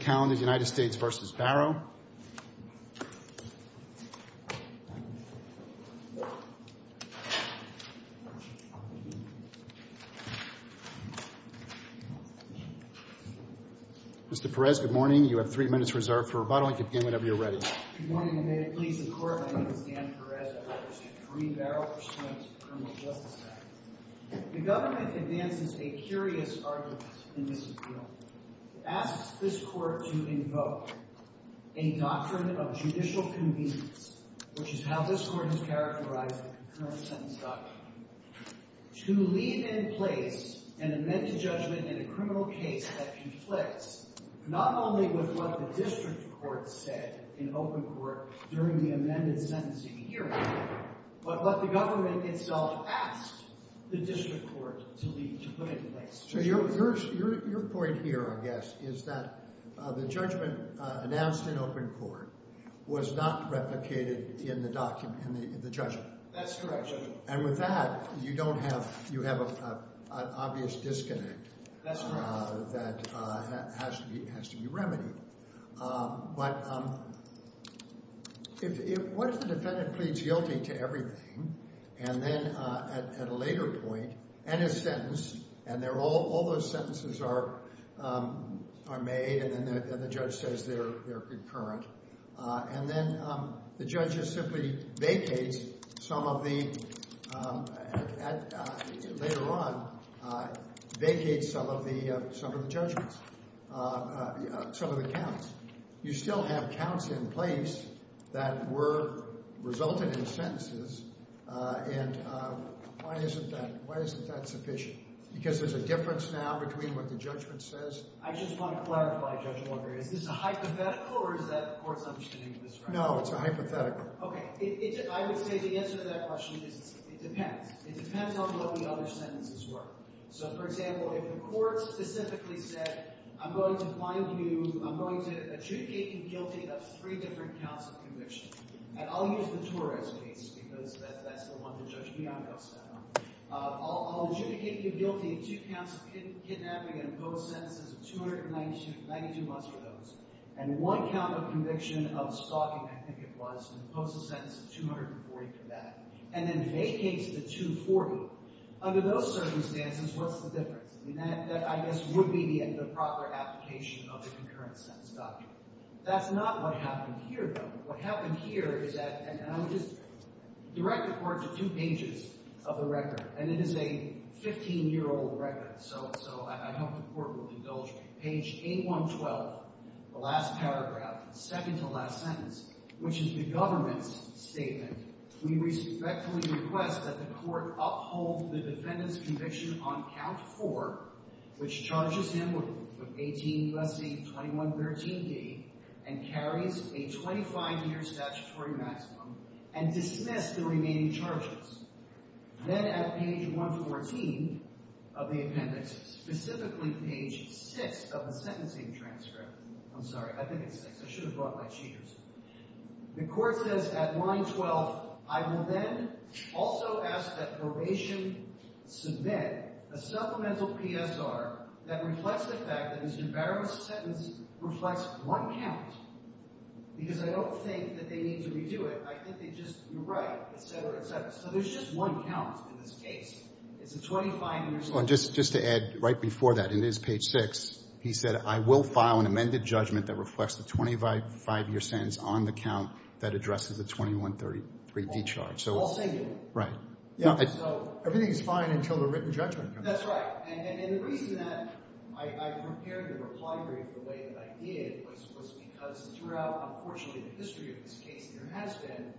Mr. Pérez, good morning. You have three minutes reserved for rebuttal. You can begin whenever you're ready. Good morning, and may it please the Court, my name is Dan Pérez. I represent the Kareem Barrow Pursuant to the Criminal Justice Act. The government advances a curious argument in this appeal. It asks this Court to invoke a doctrine of judicial convenience, which is how this Court has characterized the current sentence doctrine, to leave in place an amended judgment in a criminal case that conflicts not only with what the district court said in open court during the amended sentencing hearing, but what the government itself asked the district court to leave, to put in place. So your point here, I guess, is that the judgment announced in open court was not replicated in the judgment. That's correct, Judge. And with that, you have an obvious disconnect that has to be remedied. But what if the defendant pleads guilty to everything, and then at a later point, and his sentence, and all those sentences are made, and then the judge says they're concurrent, and then the judge just simply vacates some of the, later on, vacates some of the judgments, some of the counts. You still have counts in place that were resulted in sentences, and why isn't that sufficient? Because there's a difference now between what the judgment says— I just want to clarify, Judge Walker. Is this a hypothetical, or is that the Court's understanding of this right now? No, it's a hypothetical. Okay. I would say the answer to that question is it depends. It depends on what the other sentences were. So, for example, if the Court specifically said, I'm going to find you, I'm going to adjudicate you guilty of three different counts of conviction, and I'll use the Torres case because that's the one that Judge Bianco sat on. I'll adjudicate you guilty of two counts of kidnapping and impose sentences of 292 months for those, and one count of conviction of stalking, I think it was, and impose a sentence of 240 for that, and then vacates the 240. Under those circumstances, what's the difference? I mean, that, I guess, would be the proper application of the concurrent sentence doctrine. That's not what happened here, though. What happened here is that—and I'll just direct the Court to two pages of the record, and it is a 15-year-old record, so I hope the Court will indulge me. Page 8-112, the last paragraph, the second-to-last sentence, which is the government's statement. We respectfully request that the Court uphold the defendant's conviction on count four, which charges him with 18-2113d and carries a 25-year statutory maximum, and dismiss the remaining charges. Then at page 114 of the appendix, specifically page 6 of the sentencing transcript—I'm sorry, I think it's 6. I should have brought my cheaters. The Court says at line 12, I will then also ask that probation submit a supplemental PSR that reflects the fact that Mr. Barrett's sentence reflects one count, because I don't think that they need to redo it. I think they just—you're right, et cetera, et cetera. So there's just one count in this case. It's a 25-year— Well, just to add right before that, in his page 6, he said, I will file an amended judgment that reflects the 25-year sentence on the count that addresses the 2133d charge. All singular. Right. Everything is fine until the written judgment. That's right. And the reason that I prepared the reply brief the way that I did was because throughout, unfortunately, the history of this case, there has been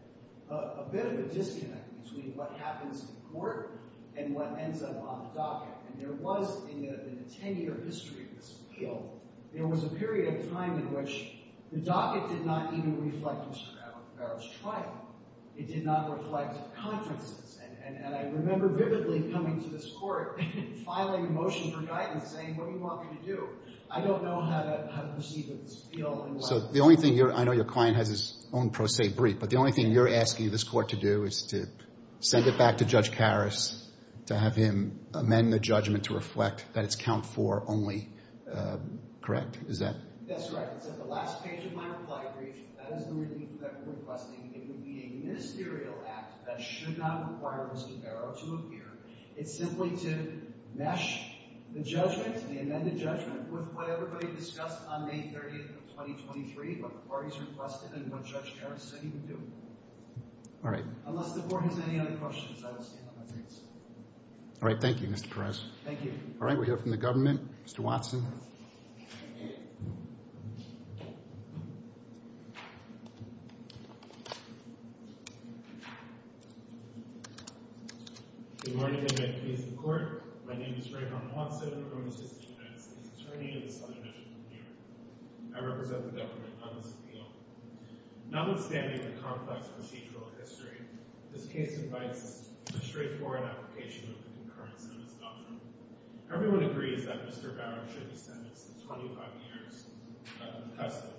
a bit of a disconnect between what happens in court and what ends up on the docket. And there was, in the 10-year history of this appeal, there was a period of time in which the docket did not even reflect Mr. Barrett's trial. It did not reflect conferences. And I remember vividly coming to this Court, filing a motion for guidance, saying, what do you want me to do? I don't know how to proceed with this appeal. So the only thing you're—I know your client has his own pro se brief, but the only thing you're asking this Court to do is to send it back to Judge Karras to have him amend the judgment to reflect that it's count four only, correct? Is that— That's right. It's at the last page of my reply brief. That is the review that we're requesting. It would be a ministerial act that should not require Mr. Barrett to appear. It's simply to mesh the judgment, the amended judgment, with what everybody discussed on May 30th of 2023, what the parties requested and what Judge Karras said he would do. All right. Unless the Court has any other questions, I will stand on my feet. All right. Thank you, Mr. Karras. Thank you. All right. We'll hear from the government. Mr. Watson. Good morning and good night to you, Mr. Court. My name is Raymond Watson. I'm an assistant justice attorney in the Southern District of New York. I represent the government on this appeal. Notwithstanding the complex procedural history, this case invites us to straightforward application of the concurrent sentence doctrine. Everyone agrees that Mr. Barrett should be sentenced to 25 years in custody.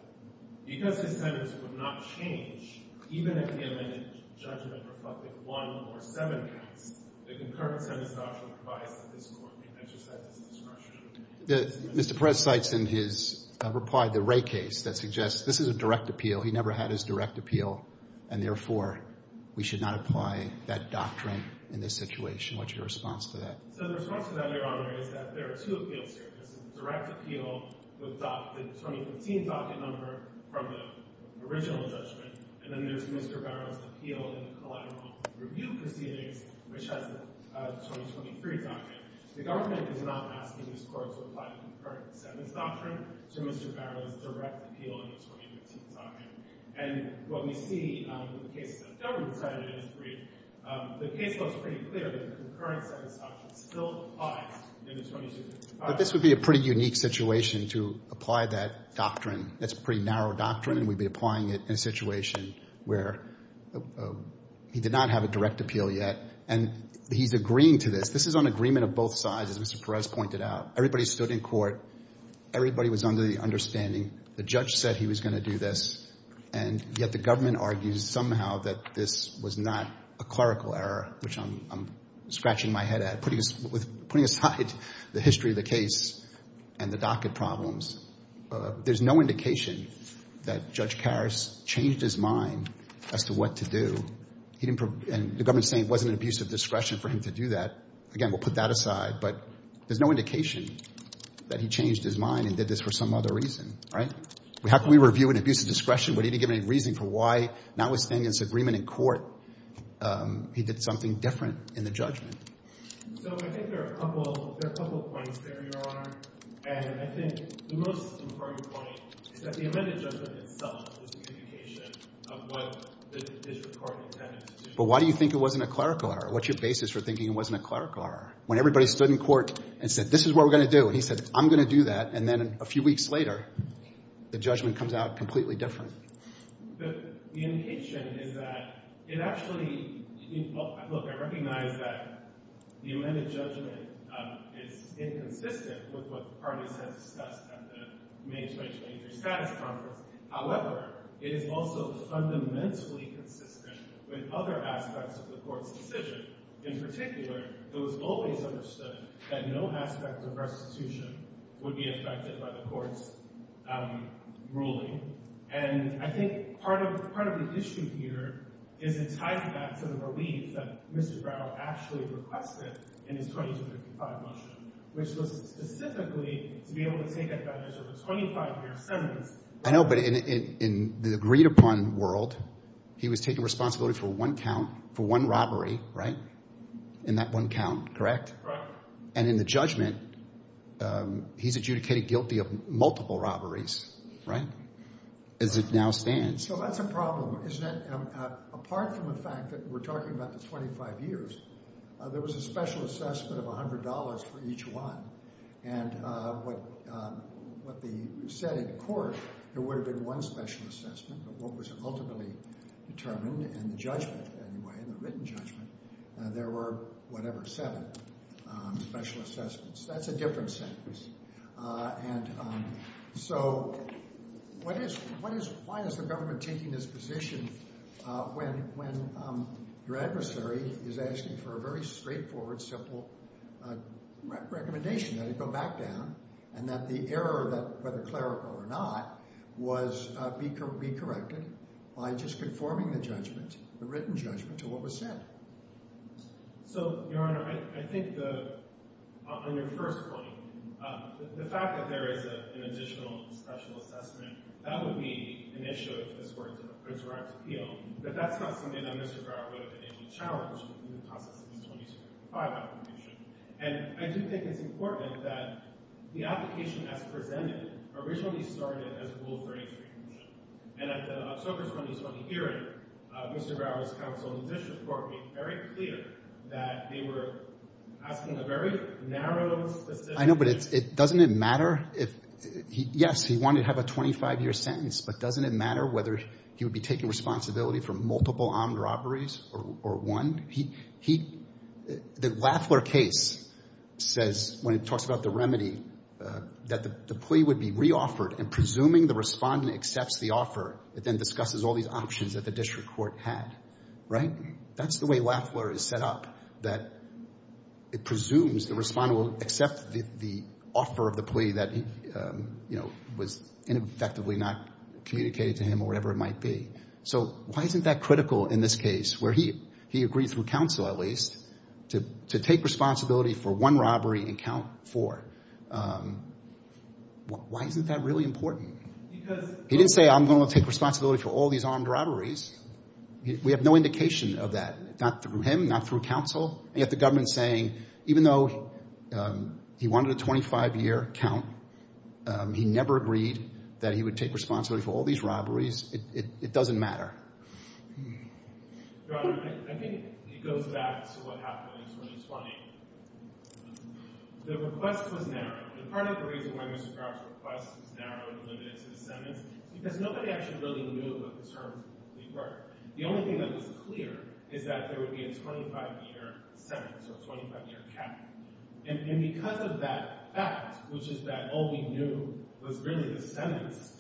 Because his sentence would not change, even if the amended judgment reflected one or seven counts, the concurrent sentence doctrine provides that this Court may exercise its discretion. Mr. Perez cites in his reply the Ray case that suggests this is a direct appeal. He never had his direct appeal, and therefore, we should not apply that doctrine in this situation. What's your response to that? So the response to that, Your Honor, is that there are two appeals here. There's a direct appeal with the 2015 docket number from the original judgment, and then there's Mr. Barrett's appeal in the collateral review proceedings, which has a 2023 docket. The government is not asking this Court to apply the concurrent sentence doctrine to Mr. Barrett's direct appeal in the 2015 docket. And what we see with the cases that the government decided in this brief, the case looks pretty clear that the concurrent sentence doctrine still applies in the 2015 docket. But this would be a pretty unique situation to apply that doctrine. That's a pretty narrow doctrine, and we'd be applying it in a situation where he did not have a direct appeal yet, and he's agreeing to this. This is an agreement of both sides, as Mr. Perez pointed out. Everybody stood in court. Everybody was under the understanding. The judge said he was going to do this, and yet the government argues somehow that this was not a clerical error, which I'm scratching my head at. Putting aside the history of the case and the docket problems, there's no indication that Judge Karras changed his mind as to what to do. And the government's saying it wasn't an abuse of discretion for him to do that. Again, we'll put that aside. But there's no indication that he changed his mind and did this for some other reason, right? How can we review an abuse of discretion when he didn't give any reason for why, notwithstanding this agreement in court, he did something different in the judgment? So I think there are a couple points there, Your Honor. And I think the most important point is that the amended judgment itself is a communication of what the district court intended to do. But why do you think it wasn't a clerical error? What's your basis for thinking it was a clerical error? When everybody stood in court and said, this is what we're going to do. And he said, I'm going to do that. And then a few weeks later, the judgment comes out completely different. The indication is that it actually—look, I recognize that the amended judgment is inconsistent with what the parties have discussed at the May 2020 Status Conference. However, it is also fundamentally consistent with other aspects of the court's decision. In particular, it was always understood that no aspect of restitution would be affected by the court's ruling. And I think part of the issue here is it ties back to the relief that Mr. Brown actually requested in his 2255 motion, which was specifically to be able to take advantage of a 25-year sentence. I know, but in the agreed-upon world, he was taking responsibility for one count, for one robbery, right? In that one count, correct? Correct. And in the judgment, he's adjudicated guilty of multiple robberies, right? As it now stands. So that's a problem, isn't it? Apart from the fact that we're talking about the 25 years, there was a special assessment of $100 for each one. And what they said in court would have been one special assessment. But what was ultimately determined in the judgment, anyway, in the written judgment, there were whatever, seven special assessments. That's a different sentence. And so why is the government taking this position when your adversary is asking for a very straightforward, simple recommendation that it go back down and that the error, whether clerical or not, was be corrected by just conforming the judgment, the written judgment, to what was said? So, Your Honor, I think on your first point, the fact that there is an additional special assessment, that would be an issue if this were a direct appeal. But that's not something that I do think it's important that the application as presented originally started as a rule for entry. And at the Circus 2020 hearing, Mr. Brower's counsel in this report made very clear that they were asking a very narrow, specific... I know, but doesn't it matter if... Yes, he wanted to have a 25-year sentence, but doesn't it matter whether he would be taking responsibility for multiple armed robberies or one? The Lafleur case says, when it talks about the remedy, that the plea would be re-offered and presuming the respondent accepts the offer, it then discusses all these options that the district court had, right? That's the way Lafleur is set up, that it presumes the respondent will accept the offer of the plea that was ineffectively not communicated to him or whatever it might be. So why isn't that critical in this case, where he agreed through counsel, at least, to take responsibility for one robbery and count four? Why isn't that really important? He didn't say, I'm going to take responsibility for all these armed robberies. We have no indication of that, not through him, not through counsel. And yet the government's saying, even though he wanted a 25-year count, he never agreed that he would take responsibility for all these robberies. It doesn't matter. Your Honor, I think it goes back to what happened in 2020. The request was narrow, and part of the reason why Mr. Crowder's request is narrow and limited to the sentence is because nobody actually really knew what the terms were. The only thing that was clear is that there would be a 25-year sentence or a 25-year count. And because of that fact, which is that all we knew was really the sentence,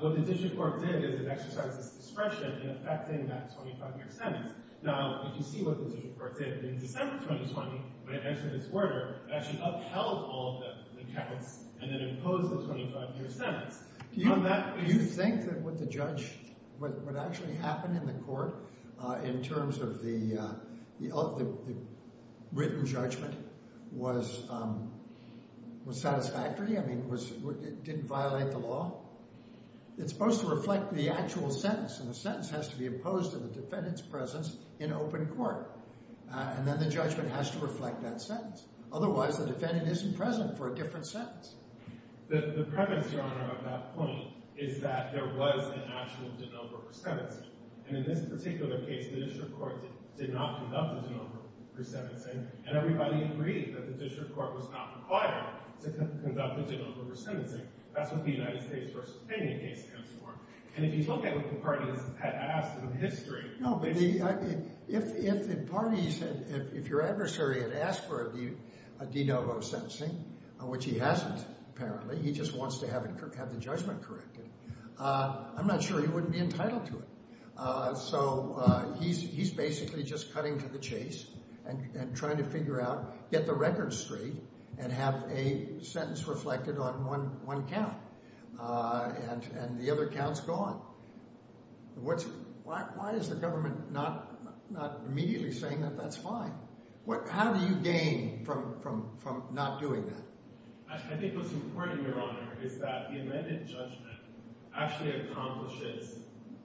what the Judicial Court did is it exercised its discretion in effecting that 25-year sentence. Now, if you see what the Judicial Court did in December 2020, when it entered its order, it actually upheld all of the counts and then imposed the 25-year sentence. Do you think that what the judge, what actually happened in the terms of the written judgment was satisfactory? I mean, it didn't violate the law? It's supposed to reflect the actual sentence, and the sentence has to be opposed to the defendant's presence in open court. And then the judgment has to reflect that sentence. Otherwise, the defendant isn't present for a different sentence. The prevalence, Your Honor, of that point is that there was an actual de novo resentencing. And in this particular case, the Judicial Court did not conduct a de novo resentencing, and everybody agreed that the Judicial Court was not required to conduct a de novo resentencing. That's what the United States v. Finney case stands for. And if you look at what the parties had asked in history... No, but if the parties, if your adversary had asked for a de novo sentencing, which he hasn't apparently, he just wants to have the judgment corrected, I'm not sure he wouldn't be entitled to it. So he's basically just cutting to the chase and trying to figure out, get the record straight, and have a sentence reflected on one count. And the other count's gone. Why is the government not immediately saying that that's fine? How do you gain from not doing that? I think what's important, Your Honor, is that the amended judgment actually accomplishes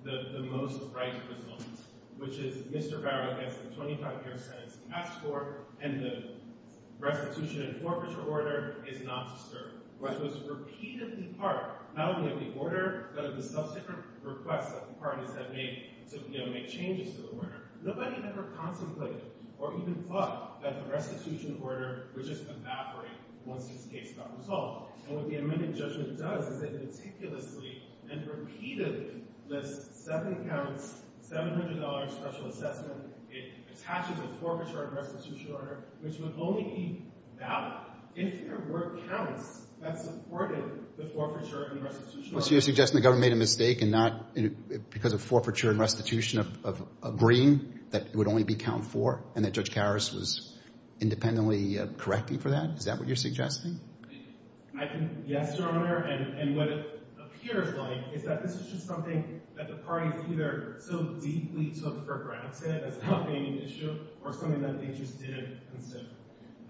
the most right result, which is Mr. Barrett gets the 25-year sentence he asked for, and the restitution and forfeiture order is not disturbed. What was repeatedly part, not only of the order, but of the subsequent requests that the parties had made to make changes to the order, nobody ever contemplated or even thought that the restitution order would just evaporate once this case got resolved. And what the amended judgment does is it meticulously and repeatedly lists seven counts, $700 special assessment, it attaches a forfeiture and restitution order, which would only be valid if there were counts that supported the forfeiture and restitution order. So you're suggesting the government made a mistake and not because of forfeiture and restitution agreeing that it would only be count four and that Judge Karas was independently correcting for that? Is that what you're suggesting? Yes, Your Honor. And what it appears like is that this is just something that the parties either so deeply took for granted as not being an issue or something that they just didn't consider.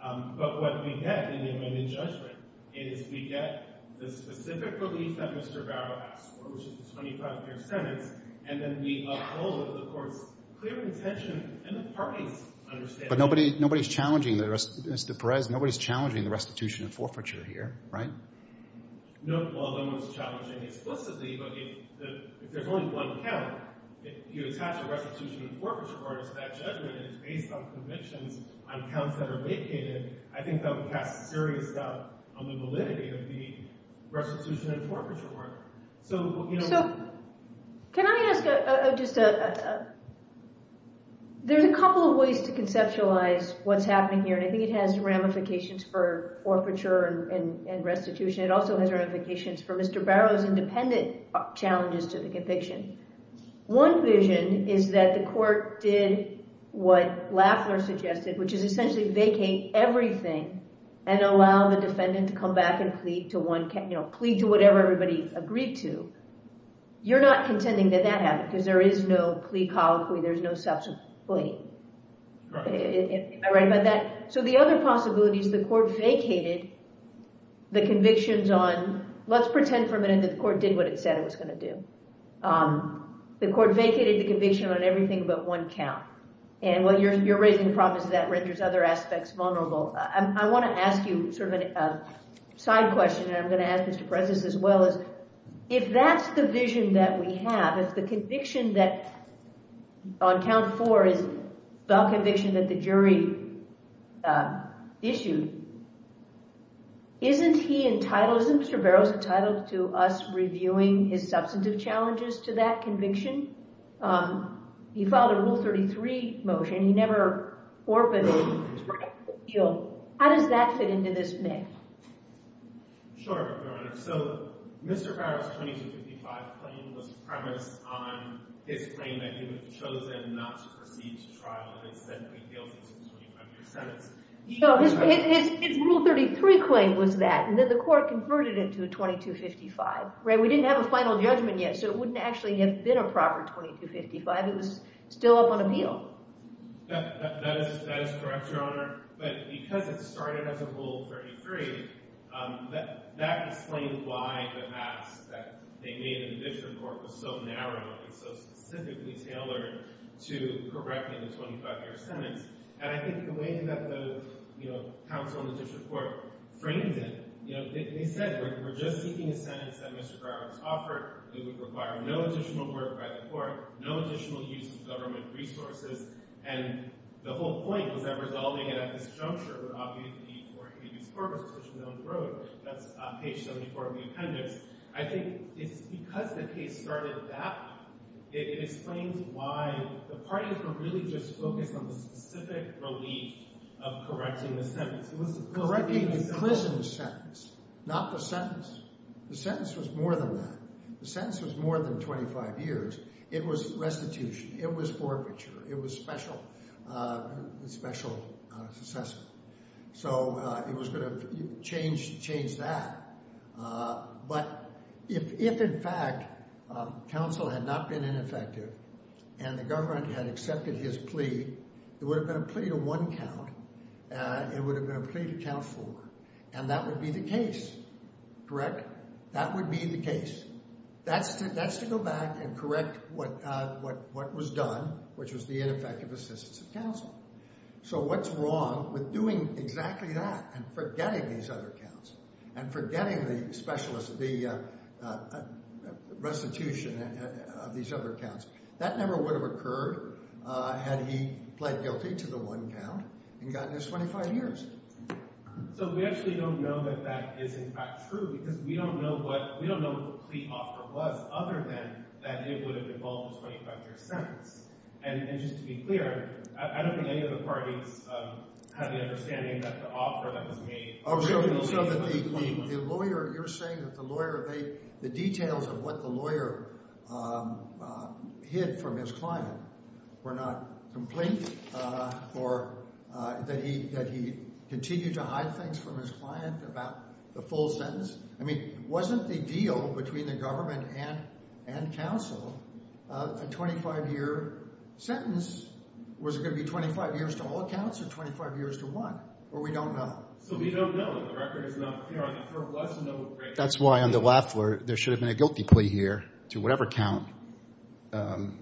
But what we get in the amended judgment is we get the specific relief that Mr. Barrett asked for, which is the 25-year sentence, and then we uphold the court's clear intention and the party's understanding. But nobody's challenging the restitution and forfeiture here, right? No, no one's challenging explicitly, but if there's only one count, if you attach a restitution and forfeiture order to that judgment and it's based on convictions on counts that are vacated, I think that would cast serious doubt on the validity of restitution and forfeiture work. Can I ask just a... There's a couple of ways to conceptualize what's happening here, and I think it has ramifications for forfeiture and restitution. It also has ramifications for Mr. Barrett's independent challenges to the conviction. One vision is that the court did what Lafler suggested, which is essentially vacate everything and allow the defendant to come back and plead to whatever everybody agreed to. You're not contending that that happened because there is no plea colloquy, there's no subsequent plea. Am I right about that? So the other possibility is the court vacated the convictions on... Let's pretend for a minute that the court did what it said it was going to do. The court vacated the conviction on everything but one count. And while you're raising promises that renders other aspects vulnerable, I want to ask you sort of a side question, and I'm going to ask Mr. Precious as well. If that's the vision that we have, if the conviction that on count four is the conviction that the jury issued, isn't he entitled... Isn't Mr. Barrett entitled to us reviewing his substantive challenges to that conviction? He filed a Rule 33 motion, he never orpaned it. How does that fit into this myth? Sure, Your Honor. So Mr. Barrett's 2255 claim was premised on his claim that he was chosen not to proceed to trial and is said to be guilty to the 25-year sentence. His Rule 33 claim was that, and then the court converted it to a 2255. We didn't have a final judgment yet, so it wouldn't actually have been a proper 2255. It was still up on appeal. That is correct, Your Honor. But because it started as a Rule 33, that explains why the mask that they made in the district court was so narrow and so specifically tailored to correcting the 25-year sentence. And I think the way that the counsel in the district court framed it, they said we're just seeking a sentence that Mr. Barrett has offered. It would require no additional work by the court, no additional use of government resources. And the whole point was that resolving it at this juncture would obviously be for a case court, which is known for it. That's page 74 of the appendix. I think it's because the case started that way, it explains why the parties were really just focused on the specific relief of correcting the sentence. Correcting the prison sentence, not the sentence. The sentence was more than that. The sentence was more than 25 years. It was restitution. It was forfeiture. It was special assessment. So it was going to change that. But if, in fact, counsel had not been ineffective and the government had accepted his plea, it would have been a plea to one count. It would have been a plea to count four. And that would be the case. Correct? That would be the case. That's to go back and correct what was done, which was the ineffective assistance of counsel. So what's wrong with doing exactly that and forgetting these other counts and forgetting the restitution of these other counts? That never would have occurred had he pled guilty to the one count and gotten his 25 years. So we actually don't know that that is, in fact, true because we don't know what the plea offer was other than that it would have involved a 25-year sentence. And just to be clear, I don't think any of the parties have the understanding that the offer that was made— So you're saying that the lawyer—the details of what the lawyer hid from his client were not complete or that he continued to hide things from his client about the full sentence? I mean, wasn't the deal between the government and counsel a 25-year sentence? Was it going to be 25 years to all counts or 25 years to one? Or we don't know. So we don't know. The record is not clear. I think for us to know— That's why on the left there should have been a guilty plea here to whatever count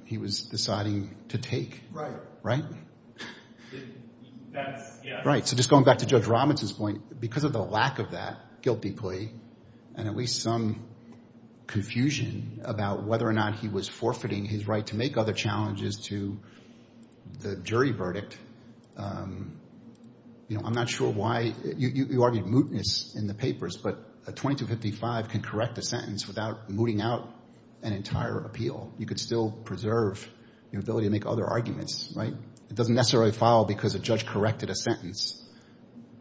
he was deciding to take. Right. Right? Right. So just going back to Judge Rahman's point, because of the lack of that guilty plea and at least some confusion about whether or not he was forfeiting his right to make other challenges to the jury verdict, you know, I'm not sure why—you argued mootness in the papers, but a 2255 can correct a sentence without mooting out an entire appeal. You could still preserve your ability to make other arguments. Right? It doesn't necessarily file because a judge corrected a sentence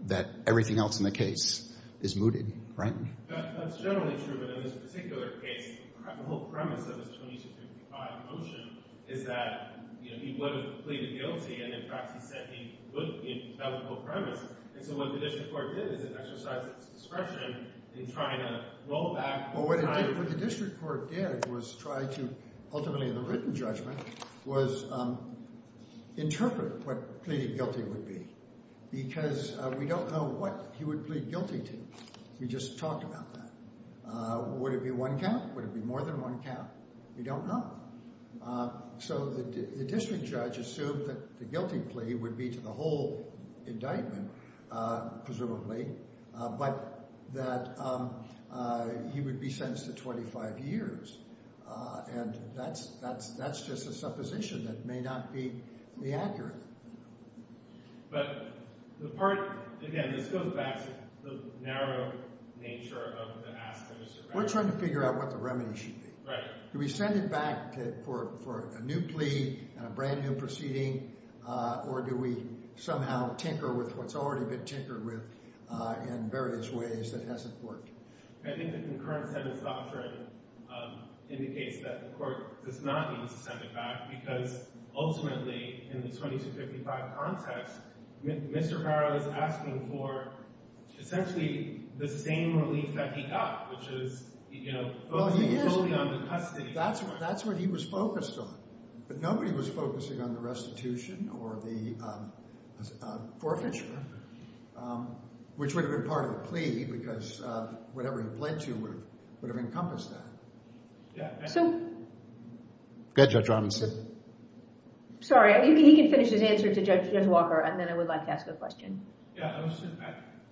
that everything else in the case is mooted. Right? That's generally true. But in this particular case, the whole premise of this 2255 motion is that, you know, he would have pleaded guilty. And in fact, he said he would—that was the whole premise. And so what the district court did is it exercised its discretion in trying to roll back— Well, what the district court did was try to—ultimately, the written judgment was interpret what pleading guilty would be, because we don't know what he would plead guilty to. We just talked about that. Would it be one count? Would it be more than one count? We don't know. So the district judge assumed that the guilty plea would be to the whole indictment, presumably, but that he would be sentenced to 25 years. And that's just a supposition that may not be accurate. But the part—again, this goes back to the narrow nature of the asterisk. We're trying to figure out what the remedy should be. Right. Do we send it back for a new plea and a brand new proceeding, or do we somehow tinker with what's already been tinkered with in various ways that hasn't worked? I think the concurrent sentence doctrine indicates that the court does not need to send it back because, ultimately, in the 2255 context, Mr. Harrell is asking for essentially the same relief that he got, which is, you know, focusing solely on the custody. That's what he was focused on. But nobody was focusing on the restitution or the forfeiture, which would have been part of the plea because whatever he pled to would have encompassed that. Yeah. So— Go ahead, Judge Robinson. Sorry. He can finish his answer to Judge Walker, and then I would like to ask a question. Yeah.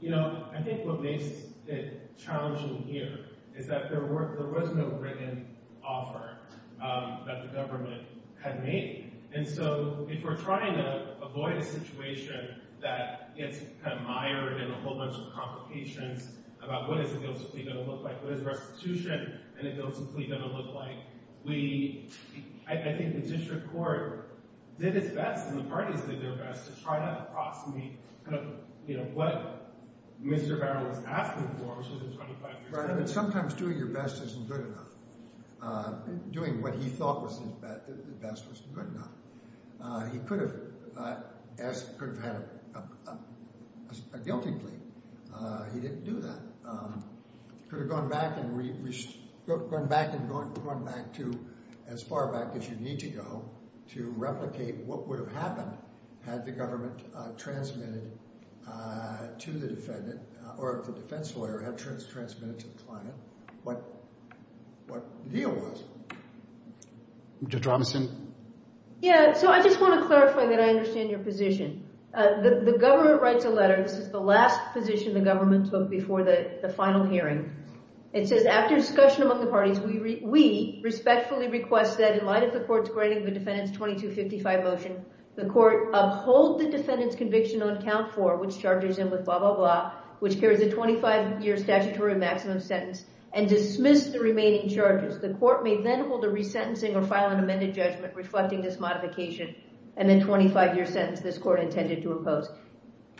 You know, I think what makes it challenging here is that there was no written offer that the government had made. And so if we're trying to avoid a situation that gets kind of mired in a whole bunch of complications about what is it going to look like, what is restitution, and is it simply going to look like we—I think the district court did its best, and the parties did their best to try to approximate kind of, you know, what Mr. Harrell was asking for, which was a 25-year sentence. Right. And sometimes doing your best isn't good enough. Doing what he thought was his best was good enough. He could have asked—could have had a guilty plea. He didn't do that. He could have gone back and gone back to—as far back as you need to go to replicate what would have happened had the government transmitted to the defendant, or if the defense lawyer had transmitted to the client, what the deal was. Judge Robinson? Yeah. So I just want to clarify that I understand your position. The government writes a letter. This is the last position the government took before the final hearing. It says, after discussion among the parties, we respectfully request that in light of the court's grading the defendant's 2255 motion, the court uphold the defendant's conviction on count four, which charges him with blah, blah, blah, which carries a 25-year statutory maximum sentence, and dismiss the remaining charges. The court may then hold a resentencing or file an amended judgment reflecting this modification and then 25-year sentence this court intended to impose.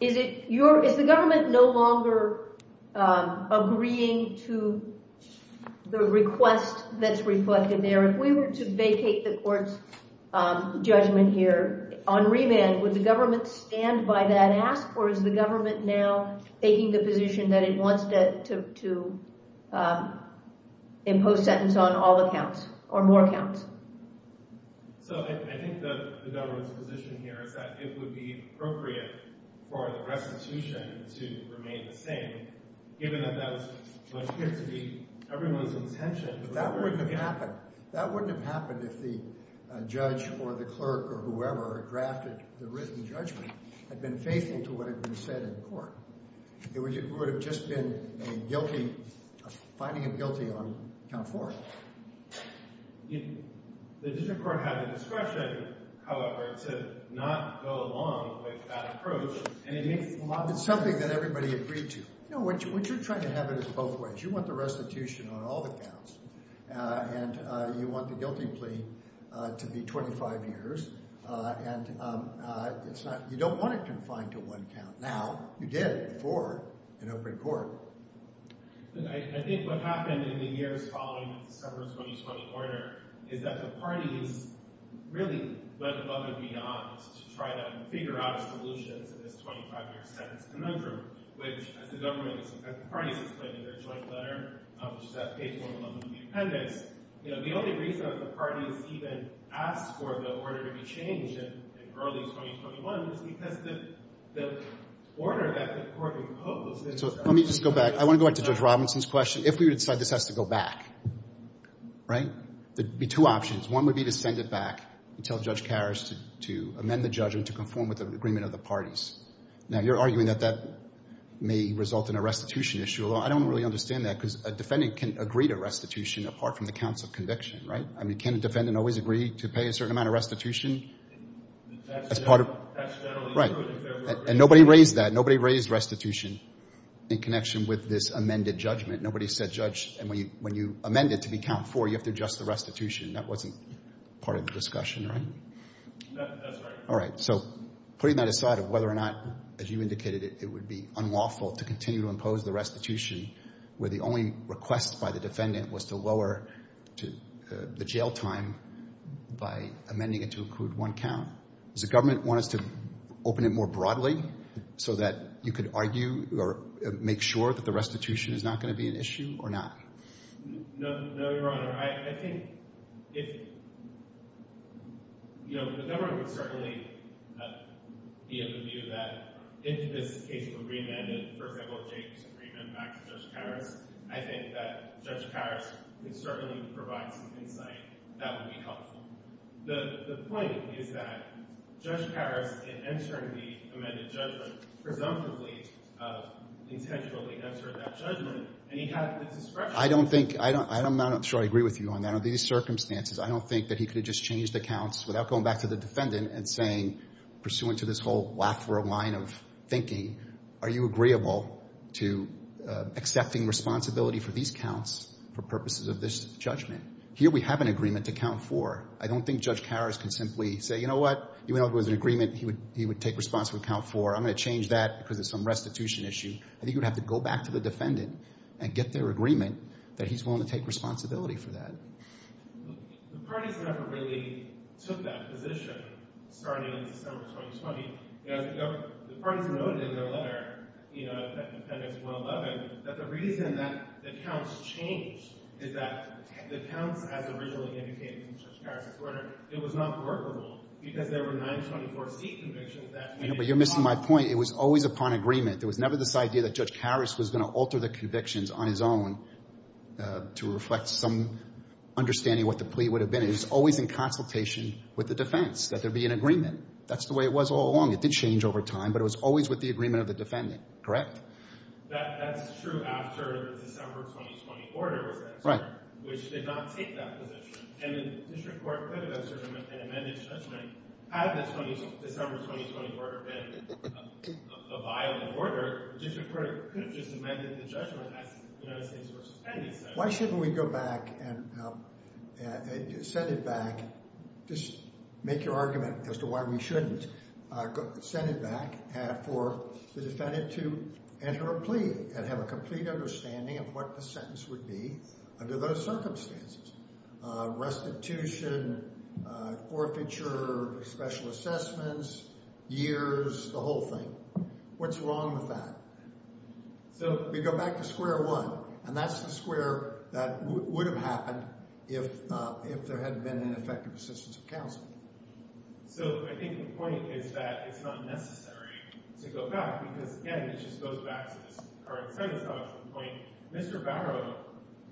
Is it your—is the government no longer agreeing to the request that's reflected there? If we were to vacate the court's judgment here on remand, would the government stand by that ask, or is the government now taking the position that it wants to impose sentence on all accounts or more accounts? So I think the government's position here is that it would be appropriate for the restitution to remain the same, given that that was much clearer to be everyone's intention. But that wouldn't have happened. That wouldn't have happened if the judge or the clerk or whoever drafted the written judgment had been faithful to what had been said in court. It would have just been a guilty—finding him guilty on count four. The district court had the discretion, however, to not go along with that approach, and it makes a lot of sense— It's something that everybody agreed to. No, what you're trying to have is both ways. You want the restitution on all the counts, and you want the guilty plea to be 25 years. And it's not—you don't want it confined to one count. Now, you did before in open court. Look, I think what happened in the years following the December 2020 order is that the parties really went above and beyond to try to figure out a solution to this 25-year sentence conundrum, which, as the government—as the parties explained in their joint letter, which is at page 11 of the appendix, you know, the only reason that the parties even asked for the order to be changed in early 2021 was because the order that the court imposed— Let me just go back. I want to go back to Judge Robinson's question. If we were to decide this has to go back, right, there'd be two options. One would be to send it back and tell Judge Karras to amend the judgment to conform with the agreement of the parties. Now, you're arguing that that may result in a restitution issue, although I don't really understand that, because a defendant can agree to restitution apart from the counts of conviction, right? I mean, can a defendant always agree to pay a certain amount of restitution as part of— Accidentally— Right. And nobody raised that. Nobody raised restitution. In connection with this amended judgment, nobody said, Judge—and when you amend it to be count four, you have to adjust the restitution. That wasn't part of the discussion, right? That's right. All right. So, putting that aside of whether or not, as you indicated, it would be unlawful to continue to impose the restitution where the only request by the defendant was to lower the jail time by amending it to include one count, does the government want us to open it more broadly so that you could argue or make sure that the restitution is not going to be an issue or not? No, Your Honor. I think if—you know, the government would certainly be of the view that if this case were remanded, for example, James' agreement back to Judge Paris, I think that Judge Paris could certainly provide some insight that would be helpful. The point is that Judge Paris, in entering the amended judgment, presumptively intentionally entered that judgment, and he had the discretion— I don't think—I'm not sure I agree with you on that. Under these circumstances, I don't think that he could have just changed the counts without going back to the defendant and saying, pursuant to this whole lack of a line of thinking, are you agreeable to accepting responsibility for these counts for purposes of this judgment? Here we have an agreement to count four. I don't think Judge Paris can simply say, you know what? Even though there was an agreement he would take responsibility to count four, I'm going to change that because of some restitution issue. I think he would have to go back to the defendant and get their agreement that he's willing to take responsibility for that. The parties never really took that position starting in September 2020. The parties noted in their letter, you know, at Appendix 111, that the reason that the counts, as originally indicated in Judge Paris' order, it was not workable because there were 924C convictions that— But you're missing my point. It was always upon agreement. There was never this idea that Judge Paris was going to alter the convictions on his own to reflect some understanding of what the plea would have been. It was always in consultation with the defense, that there be an agreement. That's the way it was all along. It did change over time, but it was always with the agreement of the defendant, correct? That's true after the December 2020 order was entered— Right. —which did not take that position. And the district court could have asserted an amended judgment. Had the December 2020 order been a violent order, the district court could have just amended the judgment as United States v. Appendix said. Why shouldn't we go back and send it back—just make your argument as to why we shouldn't— send it back for the defendant to enter a plea and have a complete understanding of what the sentence would be under those circumstances. Restitution, forfeiture, special assessments, years, the whole thing. What's wrong with that? So— We go back to square one, and that's the square that would have happened if there hadn't been an effective assistance of counsel. So I think the point is that it's not necessary to go back because, again, it just goes back to this current sentence. Now, that's the point. Mr. Barrow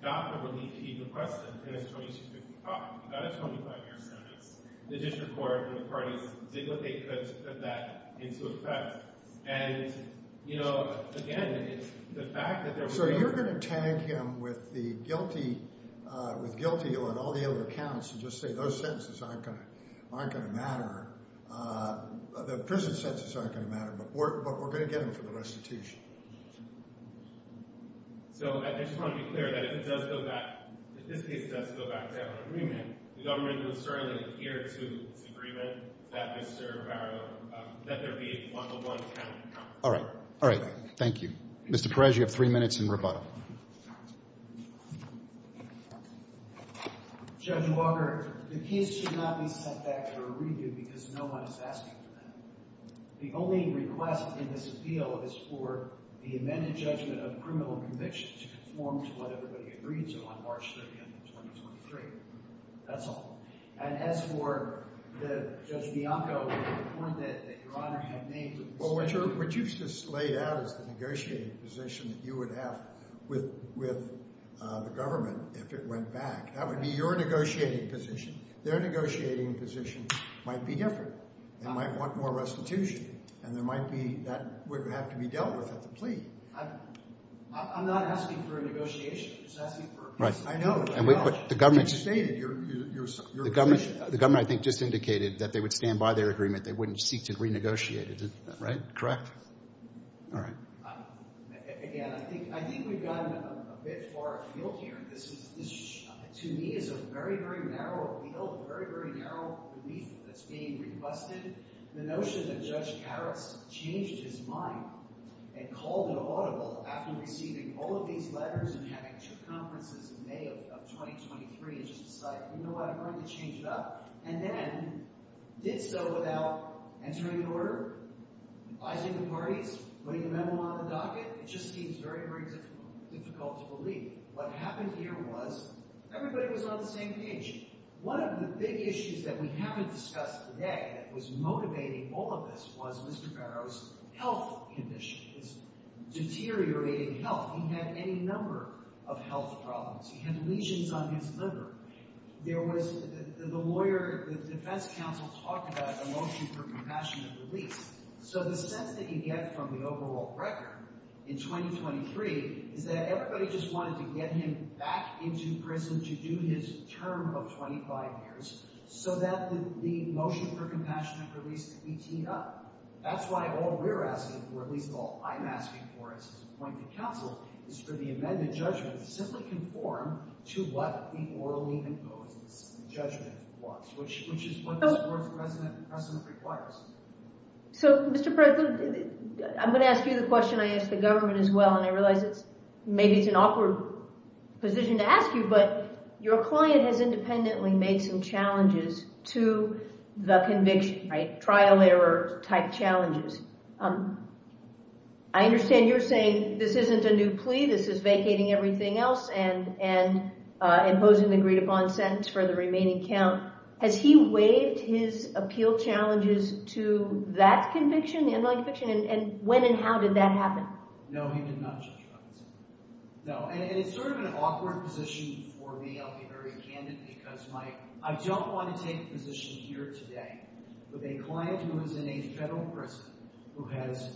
got the relief he requested in his 2255. He got a 25-year sentence. The district court and the parties did what they could to put that into effect. And, you know, again, the fact that there was— So you're going to tag him with the guilty—with guilty on all the other counts and just say those sentences aren't going to matter. The prison sentences aren't going to matter, but we're going to get him for the restitution. So I just want to be clear that if it does go back—if this case does go back to our agreement, the government will certainly adhere to this agreement that Mr. Barrow—that there be a one-to-one count. All right. All right. Thank you. Mr. Perez, you have three minutes in rebuttal. Judge Walker, the case should not be sent back to a review because no one is asking for that. The only request in this appeal is for the amended judgment of the criminal conviction to conform to what everybody agreed to on March 30, 2023. That's all. And as for Judge Bianco, the point that Your Honor had made— Well, what you just laid out is the negotiating position that you would have with the government if it went back. That would be your negotiating position. Their negotiating position might be different. They might want more restitution. And there might be—that would have to be dealt with at the plea. I'm not asking for a negotiation. I'm just asking for— Right. I know. But you stated your position. The government, I think, just indicated that they would stand by their agreement. They wouldn't seek to renegotiate it. Right? Correct? All right. Again, I think we've gotten a bit far afield here. This, to me, is a very, very narrow appeal, a very, very narrow belief that's being busted. The notion that Judge Harris changed his mind and called an audible after receiving all of these letters and having two conferences in May of 2023 and just decided, you know what? I'm going to change it up, and then did so without entering an order, advising the parties, putting a memo on the docket. It just seems very, very difficult to believe. What happened here was everybody was on the same page. One of the big issues that we haven't discussed today that was motivating all of this was Mr. Barrow's health condition, his deteriorating health. He had any number of health problems. He had lesions on his liver. There was—the lawyer, the defense counsel talked about a motion for compassionate release. So the sense that you get from the overall record in 2023 is that everybody just wanted to get him back into prison to do his term of 25 years so that the motion for compassionate release could be teed up. That's why all we're asking for, at least all I'm asking for as an appointed counsel, is for the amended judgment to simply conform to what the orderly imposed judgment was, which is what this Board's precedent requires. So, Mr. President, I'm going to ask you the question I asked the government as well, and I realize maybe it's an awkward position to ask you, but your client has independently made some challenges to the conviction, right? Trial-error-type challenges. I understand you're saying this isn't a new plea. This is vacating everything else and imposing the agreed-upon sentence for the remaining count. Has he waived his appeal challenges to that conviction, the underlying conviction, and when and how did that happen? No, he did not. No, and it's sort of an awkward position for me. I'll be very candid because I don't want to take a position here today with a client who is in a federal prison who has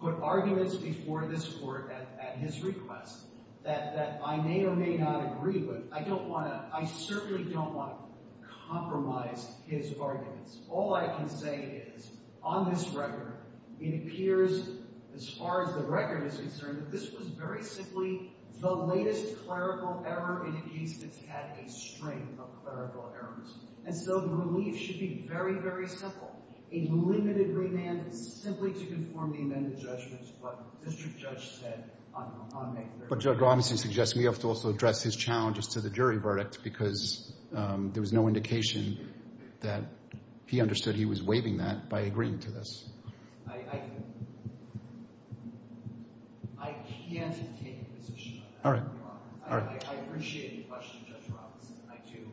put arguments before this Court at his request that I may or may not agree with. I don't want to. I certainly don't want to compromise his arguments. All I can say is, on this record, it appears, as far as the record is concerned, that this was very simply the latest clerical error in a case that's had a string of clerical errors. And so the relief should be very, very simple. A limited remand simply to conform the amended judgments, what District Judge said on May 30th. But Judge Robinson suggests we have to also address his challenges to the jury verdict because there was no indication that he understood he was waiving that by agreeing to this. I can't take a position on that, Your Honor. I appreciate your question, Judge Robinson. I do.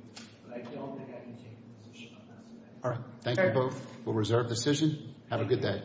But I don't think I can take a position on that today. All right. Thank you both. We'll reserve the decision. Have a good day.